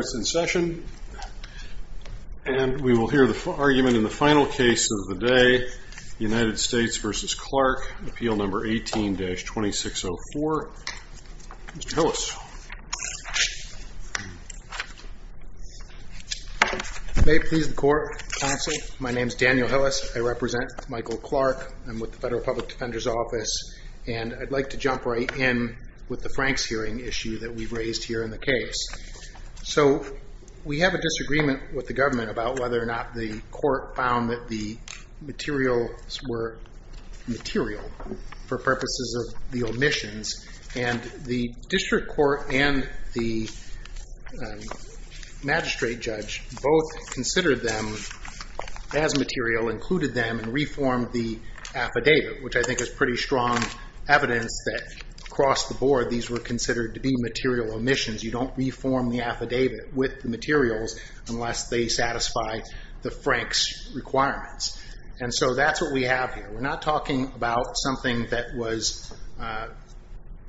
is in session and we will hear the argument in the final case of the day, United States v. Clark, appeal number 18-2604. Mr. Hillis. May it please the court, counsel, my name is Daniel Hillis, I represent Michael Clark, I'm with the Federal Public Defender's Office, and I'd like to jump right in with the Franks hearing issue that we've raised here in the case. So, we have a disagreement with the government about whether or not the court found that the materials were material for purposes of the omissions, and the district court and the magistrate judge both considered them as material, included them, and reformed the affidavit, which I think is pretty strong evidence that, across the board, these were considered to be material omissions. You don't reform the affidavit with the materials unless they satisfy the Franks requirements. And so that's what we have here. We're not talking about something that was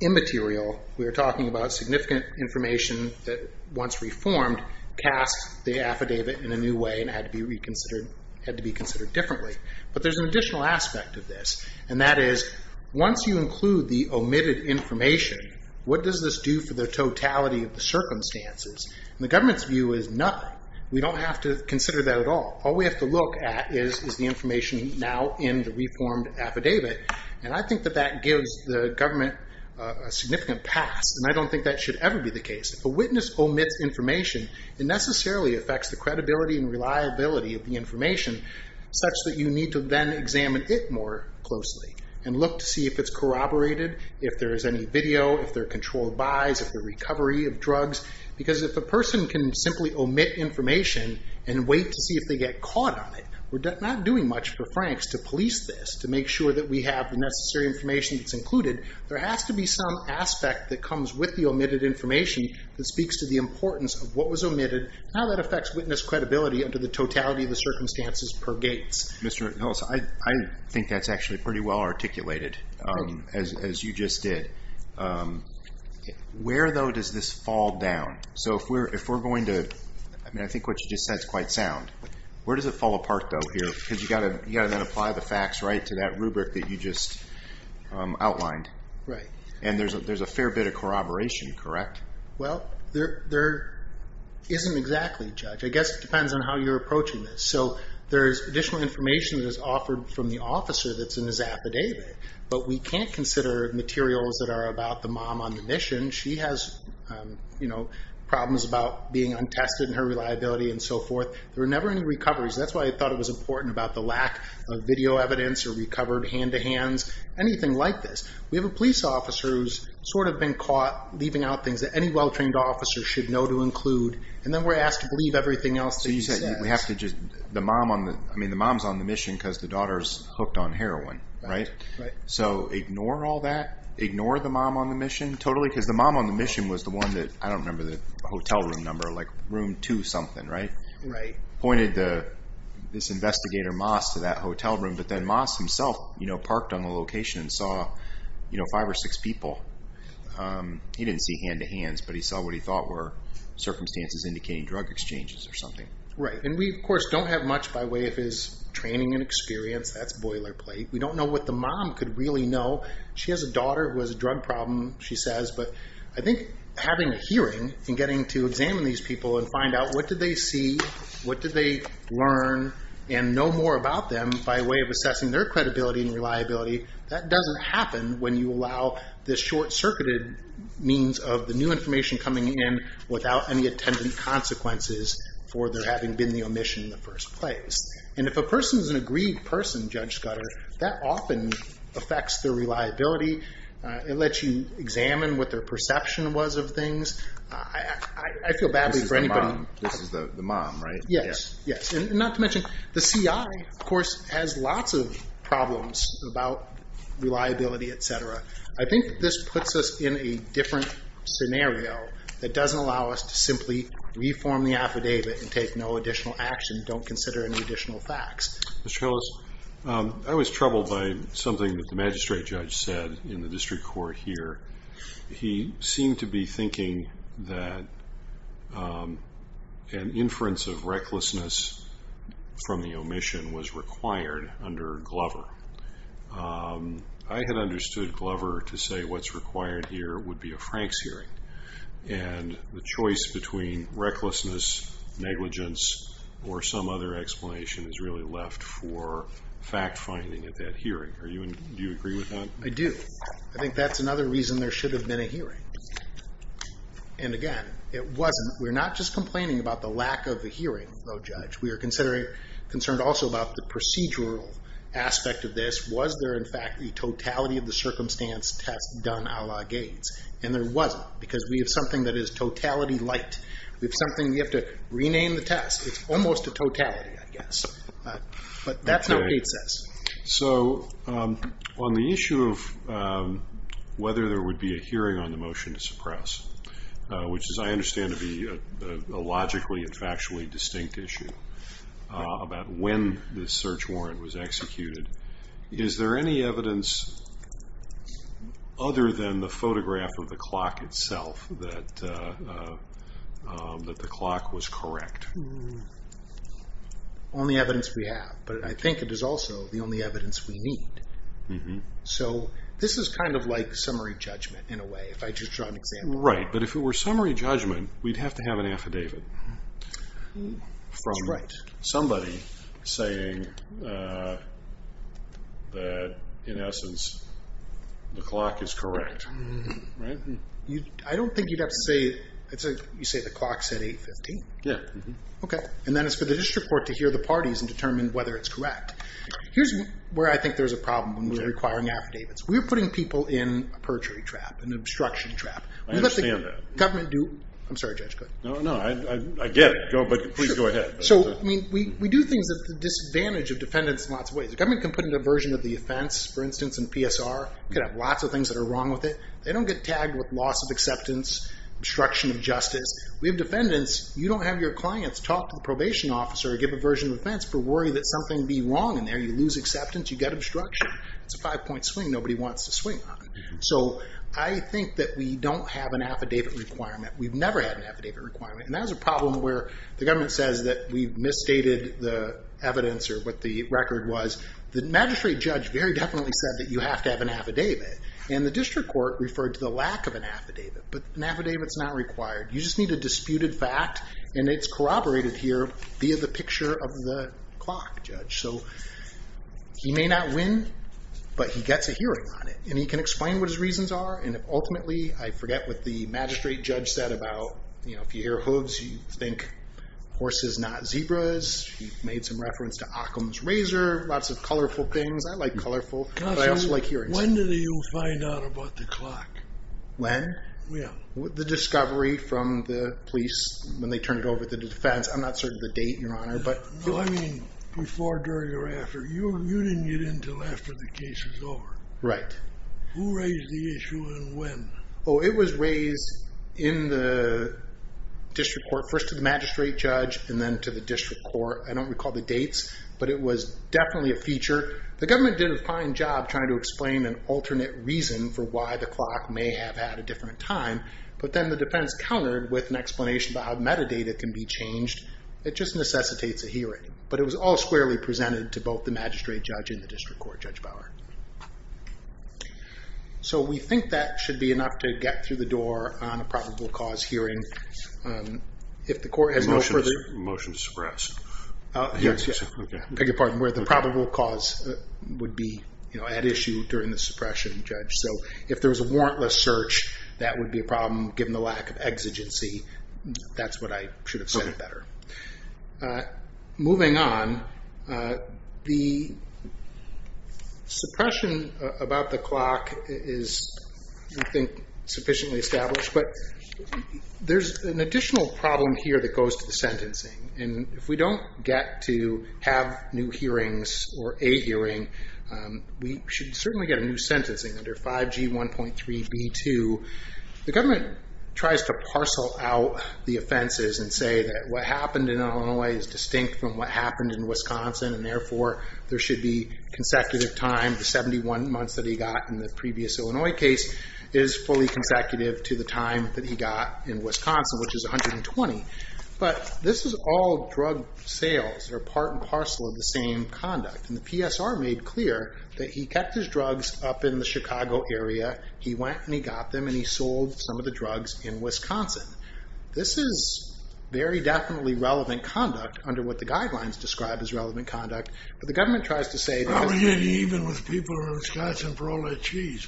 immaterial, we're talking about significant information that, once reformed, cast the affidavit in a new way and had to be reconsidered, had to be considered differently. But there's an additional aspect of this, and that is, once you include the omitted information, what does this do for the totality of the circumstances? And the government's view is nothing. We don't have to consider that at all. All we have to look at is the information now in the reformed affidavit, and I think that that gives the government a significant pass, and I don't think that should ever be the case. If a witness omits information, it necessarily affects the credibility and reliability of the information, such that you need to then examine it more closely and look to see if it's corroborated, if there is any video, if there are controlled buys, if there's recovery of drugs. Because if a person can simply omit information and wait to see if they get caught on it, we're not doing much for Franks to police this, to make sure that we have the necessary information that's included. There has to be some aspect that comes with the omitted information that speaks to the importance of what was omitted and how that affects witness credibility under the totality of the circumstances per gates. I think that's actually pretty well articulated, as you just did. Where, though, does this fall down? So if we're going to... I mean, I think what you just said is quite sound. Where does it fall apart, though, here? Because you've got to then apply the facts right to that rubric that you just outlined. And there's a fair bit of corroboration, correct? Well, there isn't exactly, Judge. I guess it depends on how you're approaching this. So there's additional information that is offered from the officer that's in his affidavit, but we can't consider materials that are about the mom on the mission. She has problems about being untested and her reliability and so forth. There were never any recoveries. That's why I thought it was important about the lack of video evidence or recovered hand-to-hands, anything like this. We have a police officer who's sort of been caught leaving out things that any well-trained officer should know to include, and then we're asked to believe everything else that he says. So you said we have to just... I mean, the mom's on the mission because the daughter's hooked on heroin, right? Right. So ignore all that? Ignore the mom on the mission totally? Because the mom on the mission was the one that... I don't remember the hotel room number, like room two something, right? Right. Pointed this investigator, Moss, to that hotel room, but then Moss himself parked on the location and saw five or six people. He didn't see hand-to-hands, but he saw what he thought were circumstances indicating drug exchanges or something. Right. And we, of course, don't have much by way of his training and experience. That's boilerplate. We don't know what the mom could really know. She has a daughter who has a drug problem, she says, but I think having a hearing and getting to examine these people and find out what did they see, what did they learn, and know more about them by way of assessing their credibility and reliability, that doesn't happen when you allow this short-circuited means of the new information coming in without any attendant consequences for there having been the omission in the first place. And if a person's an agreed person, Judge Scudder, that often affects their reliability. It lets you examine what their perception was of things. I feel badly for anybody... This is the mom, right? Yes. Yes. And not to mention, the CI, of course, has lots of problems about reliability, et cetera. I think this puts us in a different scenario that doesn't allow us to simply reform the affidavit and take no additional action, don't consider any additional facts. Mr. Hillis, I was troubled by something that the magistrate judge said in the district court here. He seemed to be thinking that an inference of recklessness from the omission was required under Glover. I had understood Glover to say what's required here would be a Frank's hearing. And the choice between recklessness, negligence, or some other explanation is really left for fact-finding at that hearing. Do you agree with that? I do. I think that's another reason there should have been a hearing. And again, it wasn't. We're not just complaining about the lack of a hearing, though, Judge. We are concerned also about the procedural aspect of this. Was there, in fact, the totality of the circumstance test done a la Gates? And there wasn't, because we have something that is totality light. We have something we have to rename the test. It's almost a totality, I guess. But that's not what Gates says. So on the issue of whether there would be a hearing on the motion to suppress, which I understand to be a logically and factually distinct issue about when the search warrant was executed, is there any evidence other than the photograph of the clock itself that the clock was correct? The only evidence we have. But I think it is also the only evidence we need. So this is kind of like summary judgment, in a way, if I just draw an example. Right. But if it were summary judgment, we'd have to have an affidavit from somebody saying that, in essence, the clock is correct. I don't think you'd have to say, you say the clock said 8.15. Yeah. Okay. And then it's for the district court to hear the parties and determine whether it's correct. Here's where I think there's a problem when we're requiring affidavits. We're putting people in a perjury trap, an obstruction trap. I understand that. I'm sorry, Judge, go ahead. No, I get it. But please go ahead. So we do things at the disadvantage of defendants in lots of ways. The government can put in a version of the offense, for instance, in PSR. You could have lots of things that are wrong with it. They don't get tagged with loss of acceptance, obstruction of justice. We have defendants, you don't have your clients talk to the probation officer or give a version of offense for worry that something be wrong in there. You lose acceptance, you get obstruction. It's a five point swing nobody wants to swing on. So I think that we don't have an affidavit requirement. We've never had an affidavit requirement. And that was a problem where the government says that we've misstated the evidence or what the record was. The magistrate judge very definitely said that you have to have an affidavit. And the district court referred to the lack of an affidavit. But an affidavit's not required. You just need a disputed fact. And it's corroborated here via the picture of the clock, Judge. So he may not win, but he gets a hearing on it. And he can explain what his reasons are. And ultimately, I forget what the magistrate judge said about, you know, if you hear hooves, you think horses, not zebras. He made some reference to Occam's razor. Lots of colorful things. I like colorful. But I also like hearings. When did you find out about the clock? When? Yeah. The discovery from the police when they turned it over to the defense. I'm not certain the date, Your Honor. No, I mean, before, during, or after. You didn't get in until after the case was over. Right. Who raised the issue and when? Oh, it was raised in the district court, first to the magistrate judge and then to the district court. I don't recall the dates, but it was definitely a feature. The government did a fine job trying to explain an alternate reason for why the clock may have had a different time. But then the defense countered with an explanation about how metadata can be changed. It just necessitates a hearing. But it was all squarely presented to both the magistrate judge and the district court judge Bauer. So, we think that should be enough to get through the door on a probable cause hearing. If the court has no further... Motion to suppress. Yes. Okay. I beg your pardon. Where the probable cause would be, you know, at issue during the suppression judge. So, if there was a warrantless search, that would be a problem given the lack of evidence. Moving on, the suppression about the clock is, I think, sufficiently established. But there's an additional problem here that goes to the sentencing. And if we don't get to have new hearings or a hearing, we should certainly get a new sentencing under 5G 1.3 B2. The government tries to parcel out the offenses and say that what happened in Illinois is distinct from what happened in Wisconsin. And therefore, there should be consecutive time. The 71 months that he got in the previous Illinois case is fully consecutive to the time that he got in Wisconsin, which is 120. But this is all drug sales. They're part and parcel of the same conduct. And the PSR made clear that he kept his drugs up in the Chicago area. He went and he got them and he sold some of the drugs in Wisconsin. This is very definitely relevant conduct under what the guidelines describe as relevant conduct. But the government tries to say that... I wish it was even with people in Wisconsin for all that cheese.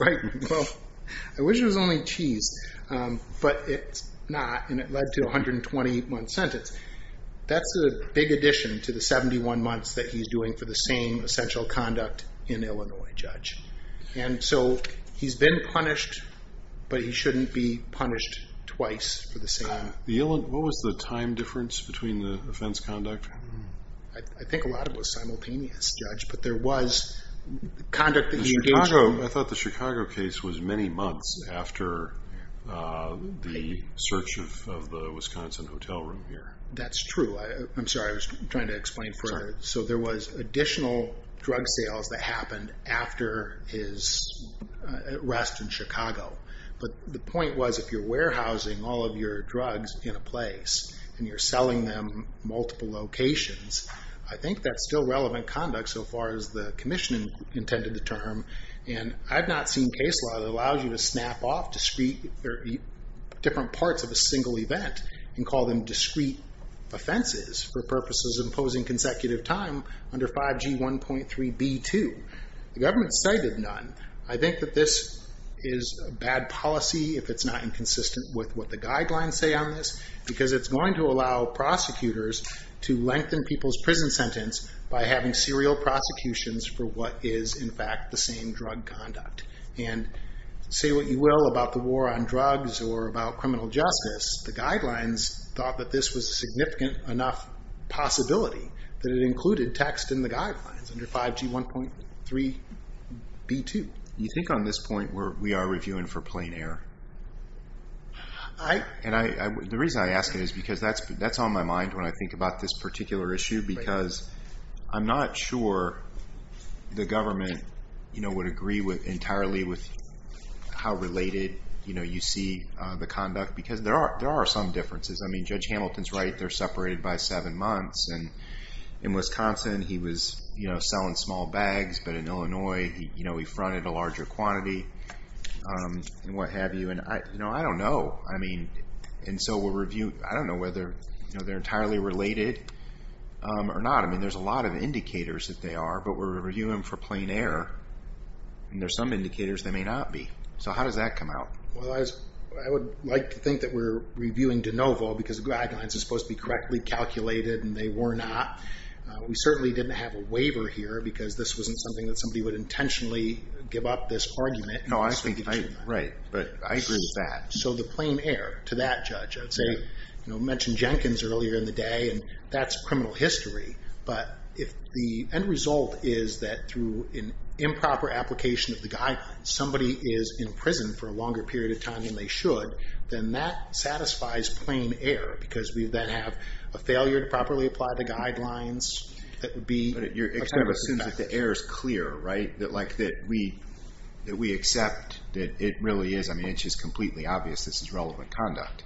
Right. Well, I wish it was only cheese. But it's not. And it led to a 120-month sentence. That's a big addition to the 71 months that he's doing for the same essential conduct in Illinois, Judge. And so he's been punished, but he shouldn't be punished twice for the same... What was the time difference between the offense conduct? I think a lot of it was simultaneous, Judge. But there was conduct that he engaged in... I thought the Chicago case was many months after the search of the Wisconsin hotel room here. That's true. I'm sorry. I was trying to explain further. So there was additional drug sales that happened after his arrest in Chicago. But the point was, if you're warehousing all of your drugs in a place and you're selling them multiple locations, I think that's still relevant conduct so far as the commission intended the term. And I've not seen case law that allow you to snap off different parts of a single event and call them discrete offenses for purposes imposing consecutive time under 5G 1.3b2. The government cited none. I think that this is a bad policy if it's not inconsistent with what the guidelines say on this, because it's going to allow prosecutors to lengthen people's prison sentence by having serial prosecutions for what is, in fact, the same drug conduct. And say what you will about the war on drugs or about criminal justice, the guidelines thought that this was a significant enough possibility that it included text in the guidelines under 5G 1.3b2. You think on this point we are reviewing for plain error? I... And the reason I ask it is because that's on my mind when I think about this particular issue, because I'm not sure the government would agree entirely with how related you see the conduct, because there are some differences. I mean, Judge Hamilton's right, they're separated by seven months. And in Wisconsin he was selling small bags, but in Illinois he fronted a larger quantity and what have you. And I don't know. I mean, and so we'll review... I don't know whether they're entirely related or not. I mean, there's a lot of indicators that they are, but we're reviewing for plain error and there's some indicators they may not be. So how does that come out? Well, I would like to think that we're reviewing de novo because the guidelines are supposed to be correctly calculated and they were not. We certainly didn't have a waiver here because this wasn't something that somebody would intentionally give up this argument. No, I think you're right, but I agree with that. So the plain error to that judge, I'd say, mentioned Jenkins earlier in the day and that's criminal history, but if the end result is that through an improper application of the guidelines, somebody is in prison for a longer period of time than they should, then that satisfies plain error because we then have a failure to properly apply the guidelines that would be... But it kind of assumes that the error is clear, right? That we accept that it really is. I mean, it's obvious this is relevant conduct.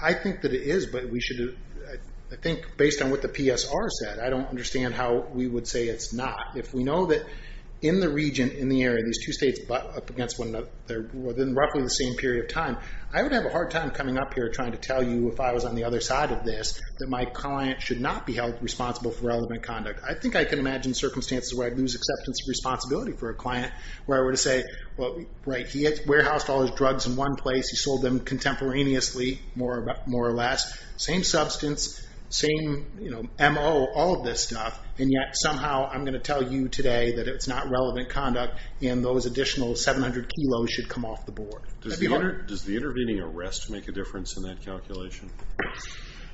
I think that it is, but we should... I think based on what the PSR said, I don't understand how we would say it's not. If we know that in the region, in the area, these two states butt up against one another within roughly the same period of time, I would have a hard time coming up here trying to tell you if I was on the other side of this that my client should not be held responsible for relevant conduct. I think I can imagine circumstances where I'd lose acceptance of responsibility for a client where I were to say, well, right, he warehoused all his drugs in one place, he sold them contemporaneously, more or less, same substance, same MO, all of this stuff, and yet somehow I'm going to tell you today that it's not relevant conduct and those additional 700 kilos should come off the board. Does the intervening arrest make a difference in that calculation?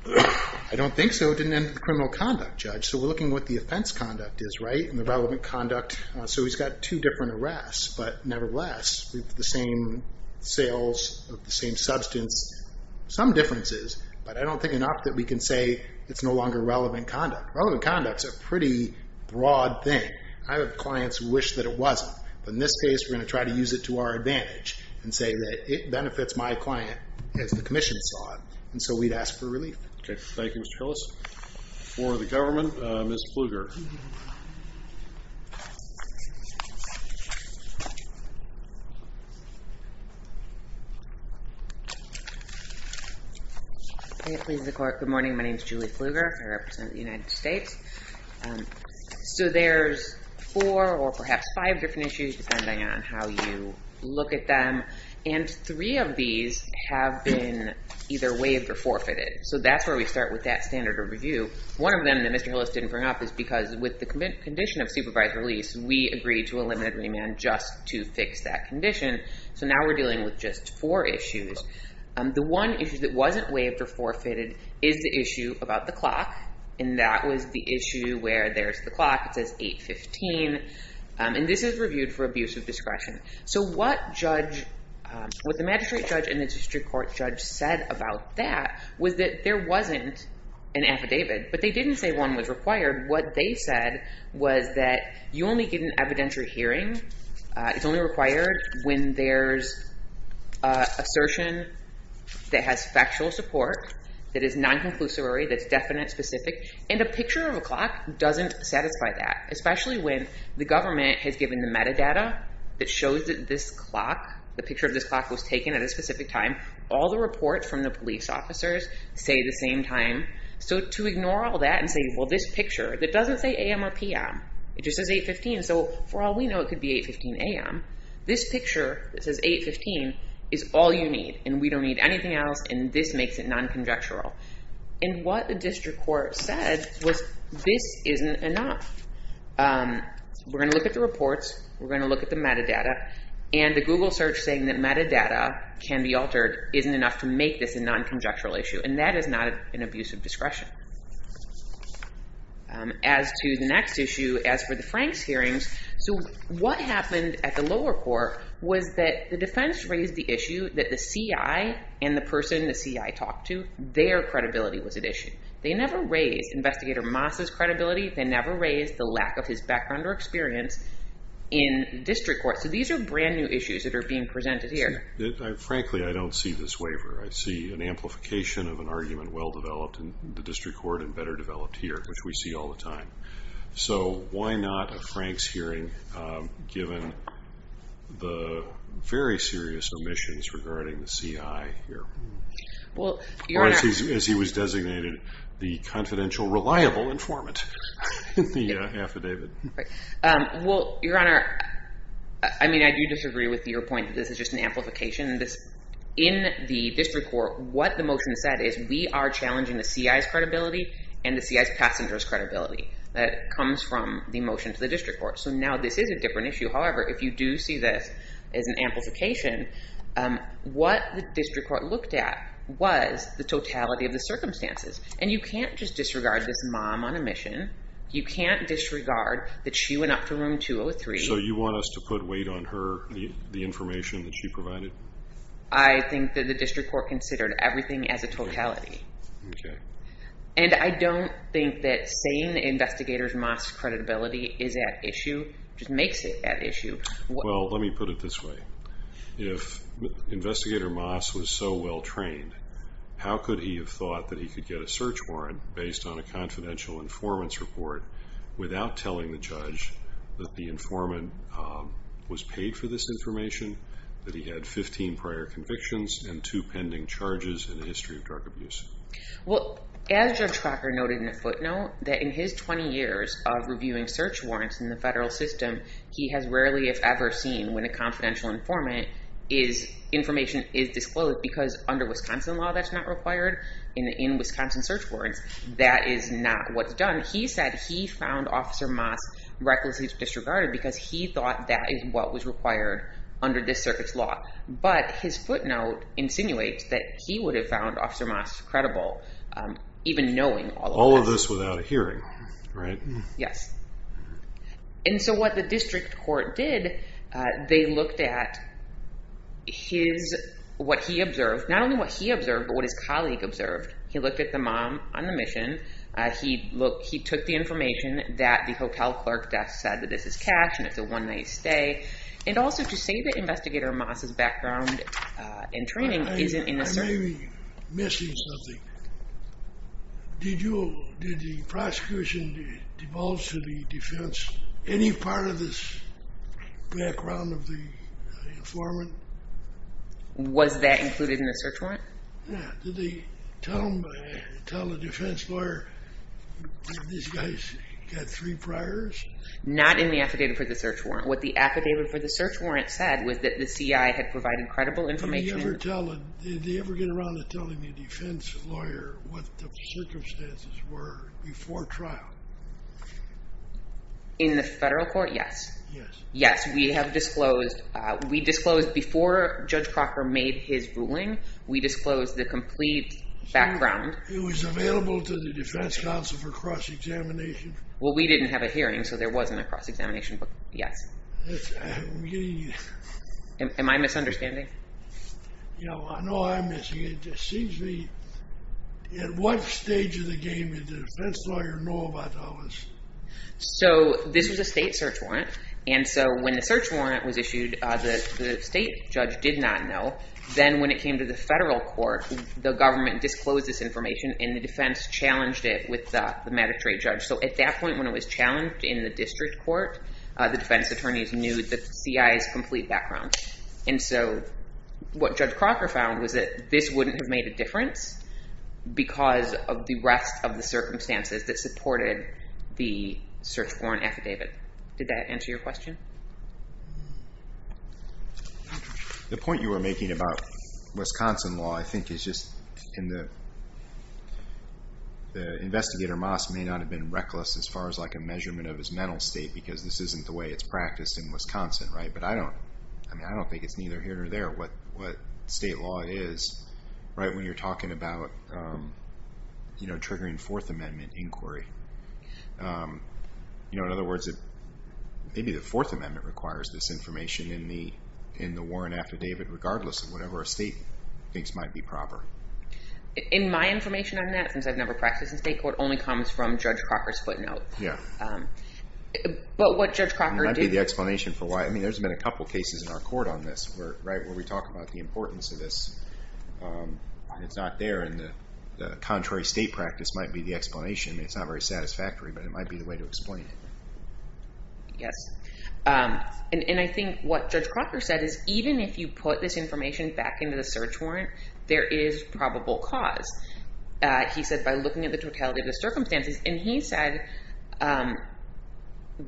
I don't think so. It didn't end with criminal conduct, Judge. So we're looking at what the offense conduct is, right, and the relevant conduct. So he's got two different arrests, but nevertheless, with the same sales of the same substance, some differences, but I don't think enough that we can say it's no longer relevant conduct. Relevant conduct's a pretty broad thing. I have clients who wish that it wasn't, but in this case, we're going to try to use it to our advantage and say that it benefits my client as the commission saw it, and so we'd ask for relief. Okay. Thank you, Mr. Hillis. For the government, Ms. Pflugert. Good morning. My name's Julie Pflugert. I represent the United States. So there's four or perhaps five different issues depending on how you look at them, and three of these have been either waived or forfeited, so that's where we start with that standard of review. One of them that Mr. Hillis didn't bring up is because with the condition of supervised release, we agreed to a limited remand just to fix that condition, so now we're dealing with just four issues. The one issue that wasn't waived or forfeited is the issue about the clock, and that was the issue where there's the clock. It says 8.15, and this is reviewed for abuse of discretion. So what the magistrate judge and the district court judge said about that was that there wasn't an affidavit, but they didn't say one was required. What they said was that you only get an evidentiary hearing. It's only required when there's assertion that has factual support, that is non-conclusory, that's definite, specific, and a picture of a clock doesn't satisfy that, especially when the government has given the metadata that shows that this clock, the picture of this clock was taken at a specific time. All the reports from the police officers say the same time, so to ignore all that and say, well, this picture, it doesn't say a.m. or p.m. It just says 8.15, so for all we know, it could be 8.15 a.m. This picture that says 8.15 is all you need, and we don't need anything else, and this makes it non-conjectural, and what the district court said was this isn't enough. We're going to look at the reports. We're going to look at the metadata, and the Google search saying that metadata can be altered isn't enough to make this a non-conjectural issue, and that is not an abuse of discretion. As to the next issue, as for the Franks hearings, so what happened at the lower court was that the defense raised the issue that the CI and the person the CI talked to. Their credibility was at issue. They never raised Investigator Moss's credibility. They never raised the lack of his background or experience in district court, so these are brand new issues that are being presented here. Frankly, I don't see this waiver. I see an amplification of an argument well developed in the district court and better developed here, which we see all the time, so why not a Franks hearing given the very serious omissions regarding the CI here, or as he was designated, the confidential reliable informant in the affidavit? Well, Your Honor, I do disagree with your point that this is just an amplification. In the district court, what the motion said is we are challenging the CI's credibility and the CI's passenger's credibility. Now, this is a different issue. However, if you do see this as an amplification, what the district court looked at was the totality of the circumstances. You can't just disregard this mom on a mission. You can't disregard that she went up to room 203. So you want us to put weight on her, the information that she provided? I think that the district court considered everything as a totality. Okay. And I don't think that saying Investigator Moss's credibility is at issue just makes it at issue. Well, let me put it this way. If Investigator Moss was so well trained, how could he have thought that he could get a search warrant based on a confidential informant's report without telling the judge that the informant was paid for this information, that he had 15 prior convictions and two pending charges and a history of drug abuse? Well, as your tracker noted in a footnote, that in his 20 years of reviewing search warrants in the federal system, he has rarely if ever seen when a confidential informant is information is disclosed because under Wisconsin law, that's not required. In Wisconsin search warrants, that is not what's done. He said he found Investigator Moss recklessly disregarded because he thought that is what was required under this circuit's law. But his footnote insinuates that he would have found Investigator Moss credible even knowing all of this. All of this without a hearing, right? Yes. And so what the district court did, they looked at what he observed, not only what he observed, but what his colleague observed. He looked at the mom on the mission. He took the information that the hotel clerk desk said that this is cash and it's a one night stay. And also to say that Investigator Moss' background and training isn't in the search warrant. I may be missing something. Did the prosecution divulge to the defense any part of this background of the Tell the defense lawyer that these guys got three priors? Not in the affidavit for the search warrant. What the affidavit for the search warrant said was that the CI had provided credible information. Did they ever get around to telling the defense lawyer what the circumstances were before trial? In the federal court, yes. Yes, we have disclosed before Judge Crocker made his ruling, we disclosed the complete background. It was available to the defense counsel for cross-examination? Well, we didn't have a hearing, so there wasn't a cross-examination, but yes. Am I misunderstanding? No, I know I'm missing it. It just seems to me at what stage of the game did the defense lawyer know about all this? So this was a state search warrant, and so when the search warrant was issued, the state judge did not know. Then when it came to the federal court, the government disclosed this information, and the defense challenged it with the magistrate judge. So at that point when it was challenged in the district court, the defense attorneys knew the CI's complete background. And so what Judge Crocker found was that this wouldn't have made a difference because of the rest of the circumstances that supported the search warrant affidavit. Did that answer your question? The point you were making about Wisconsin law, I think is just the investigator, Moss, may not have been reckless as far as like a measurement of his mental state, because this isn't the way it's practiced in Wisconsin, right? But I don't think it's neither here nor there what state law is right when you're talking about triggering Fourth Amendment inquiry. In other words, maybe the Fourth Amendment requires this information in the warrant affidavit regardless of whatever a state thinks might be proper. In my information on that, since I've never practiced in state court, only comes from Judge Crocker's footnote. But what Judge Crocker did... There's been a couple cases in our court on this where we talk about the importance of this. It's not there, and the contrary state practice might be the explanation. It's not very satisfactory, but it might be the way to explain it. Yes, and I think what Judge Crocker said is even if you put this information back into the search warrant, there is probable cause. He said by looking at the totality of the circumstances, and he said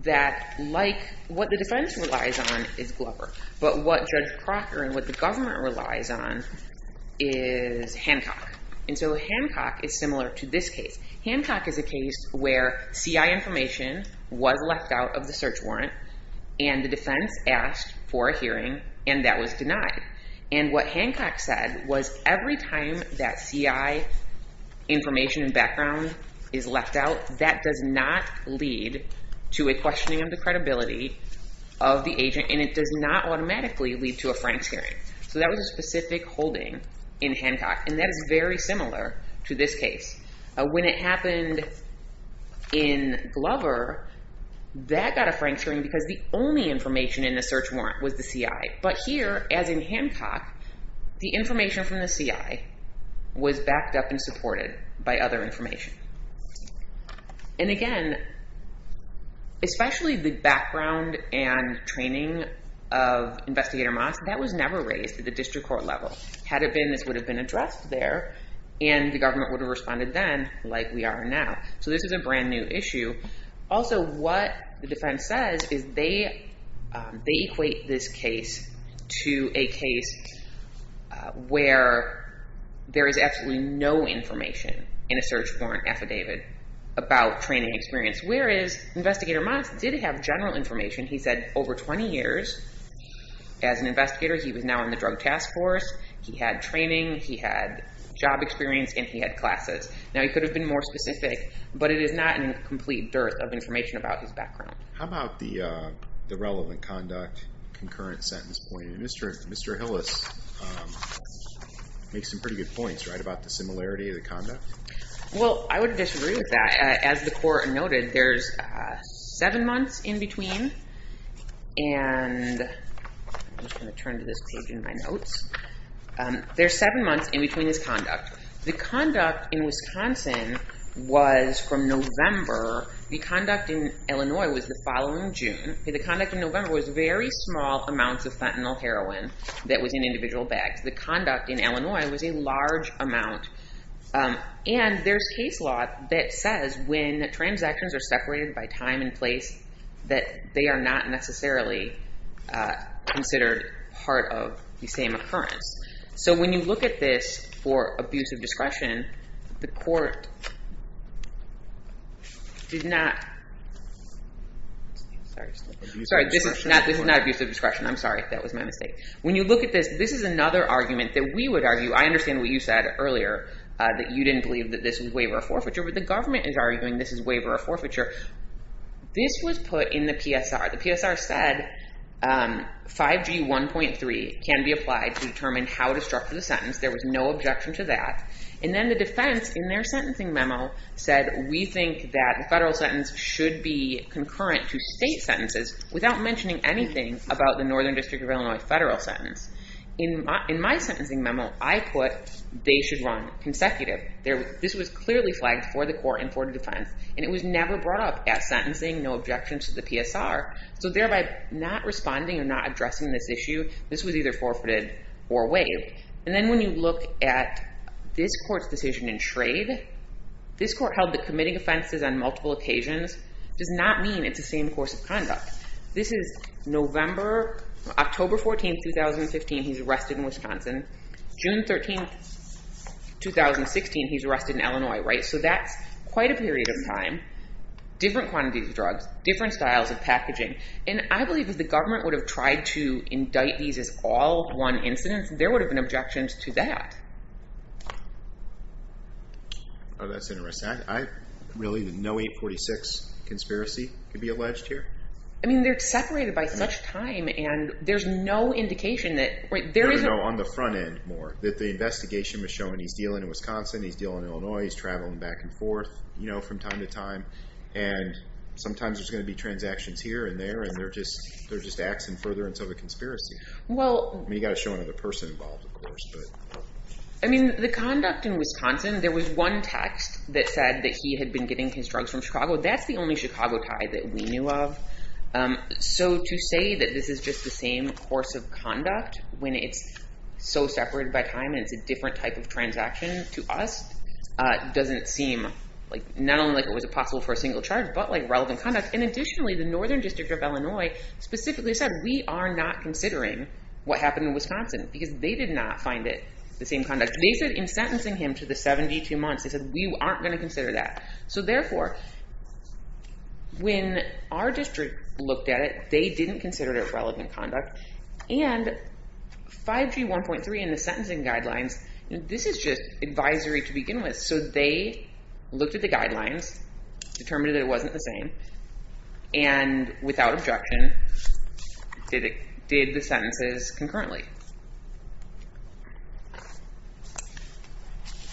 that like what the defense relies on is Glover, but what Judge Crocker and what the government relies on is Hancock. And so Hancock is similar to this case. Hancock is a case where CI information was left out of the search warrant, and the defense asked for a hearing, and that was the CI information and background is left out. That does not lead to a questioning of the credibility of the agent, and it does not automatically lead to a Frank's hearing. So that was a specific holding in Hancock, and that is very similar to this case. When it happened in Glover, that got a Frank's hearing because the only information in the search warrant was the CI. But here, as in Hancock, the information from the CI was backed up and supported by other information. And again, especially the background and training of Investigator Moss, that was never raised at the district court level. Had it been, this would have been addressed there, and the government would have responded then like we are now. So this is a brand new issue. Also, what the defense says is they equate this case to a case where there is absolutely no information in a search warrant affidavit about training experience. Whereas Investigator Moss did have general information. He said over 20 years as an investigator, he was now in the drug task force, he had training, he had job experience, and he had classes. Now, he could have been more specific, but it is not in complete dearth of information about his background. How about the relevant conduct, concurrent sentence point? Mr. Hillis makes some pretty good points, right, about the similarity of the conduct? Well, I would disagree with that. As the court noted, there's seven months in between, and I'm just going to turn to this page in my notes. There's seven months in between his conduct. The conduct in Wisconsin was from November. The conduct in Illinois was the following June. The conduct in November was very small amounts of fentanyl heroin that was in individual bags. The conduct in Illinois was a large amount. And there's case law that says when transactions are separated by time and place, that they are not necessarily considered part of the same occurrence. So when you look at this for abuse of discretion, the court did not... Sorry, this is not abuse of discretion. I'm sorry. That was my mistake. When you look at this, this is another argument that we would argue. I understand what you said earlier, that you didn't believe that this was waiver of forfeiture, but the government is arguing this is waiver of forfeiture. This was put in the PSR. The PSR said 5G 1.3 can be applied to determine how to structure the sentence. There was no objection to that. And then the defense in their sentencing memo said, we think that the federal sentence should be concurrent to state sentences without mentioning anything about the Northern District of Illinois federal sentence. In my sentencing memo, I put they should run consecutive. This was clearly flagged for the court and for the defense. And it was never brought up at sentencing, no objections to the PSR. So thereby not responding or not addressing this issue, this was either forfeited or waived. And then when you look at this court's decision in Schrade, this court held that committing offenses on multiple occasions does not mean it's the same course of conduct. This is November, October 14, 2015, he's arrested in Wisconsin. June 13, 2016, he's arrested in Illinois, right? So that's quite a period of time, different quantities of drugs, different styles of packaging. And I believe if the government would have tried to indict these as all one incident, there would have been objections to that. Oh, that's interesting. Really, no 846 conspiracy could be alleged here? I mean, they're separated by such time and there's no indication that, right, there isn't... No, no, no, on the front end more, that the investigation was shown he's dealing in Wisconsin, he's dealing in Illinois, he's traveling back and forth, you know, from time to time. And sometimes there's going to be transactions here and there, and they're just axing further until the defendant is acquitted. So the conduct in Wisconsin, there was one text that said that he had been getting his drugs from Chicago. That's the only Chicago tie that we knew of. So to say that this is just the same course of conduct when it's so separated by time and it's a different type of transaction to us doesn't seem like, not only like it was possible for a single charge, but like relevant conduct. And additionally, the Northern District of Illinois specifically said we are not sentencing him to the 72 months. They said we aren't going to consider that. So therefore, when our district looked at it, they didn't consider it relevant conduct. And 5G 1.3 and the sentencing guidelines, this is just advisory to begin with. So they looked at the guidelines, determined that it wasn't the same, and without objection, did the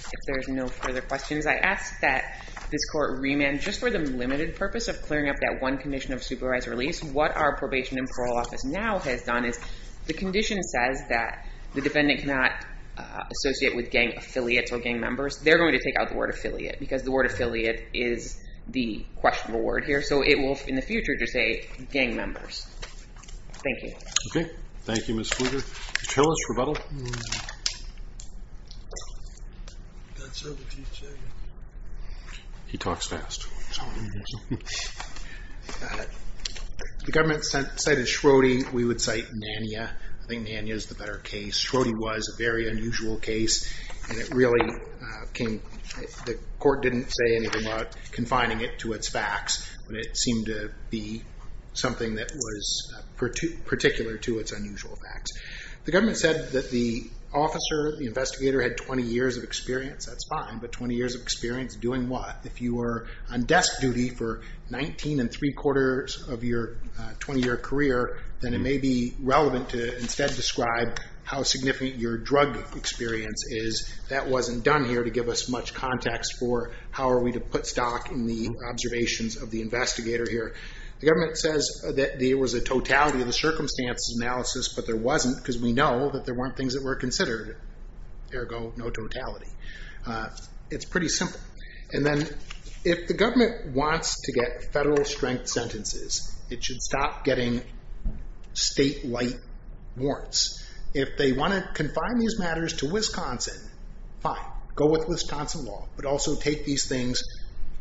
If there's no further questions, I ask that this court remand just for the limited purpose of clearing up that one condition of supervised release. What our probation and parole office now has done is the condition says that the defendant cannot associate with gang affiliates or gang members. They're going to take out the word affiliate because the word affiliate is the questionable word here. So it will, in the future, just say gang members. Thank you. Okay. Thank you, Ms. Kruger. Mr. Hillis, rebuttal? That's it. He talks fast. The government cited Schrodinger. We would cite Nanya. I think Nanya is the better case. Schrodinger was a very unusual case, and it really came, the court didn't say anything about confining it to its facts, but it seemed to be something that was particular to its unusual facts. The government said that the officer, the investigator, had 20 years of experience. That's fine, but 20 years of experience doing what? If you were on desk duty for 19 and three quarters of your 20-year career, then it may be relevant to instead describe how significant your drug experience is. That wasn't done here to give us much context for how are we to put stock in the observations of the investigator here. The government says that there was a totality of the circumstances analysis, but there wasn't because we know that there weren't things that were considered, ergo no totality. It's pretty simple. And then if the government wants to get federal strength sentences, it should stop getting state-like warrants. If they want to confine these matters to Wisconsin, fine, go with Wisconsin law, but also take these things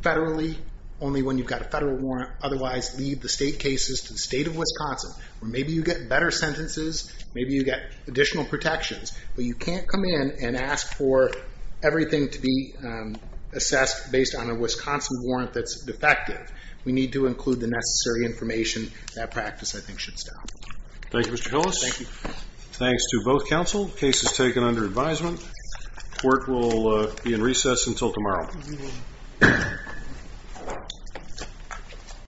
federally only when you've got a federal warrant. Otherwise, leave the state cases to the state of Wisconsin, where maybe you get better sentences, maybe you get additional protections, but you can't come in and ask for everything to be assessed based on a Wisconsin warrant that's defective. We need to Thanks to both counsel. Case is taken under advisement. Court will be in recess until tomorrow.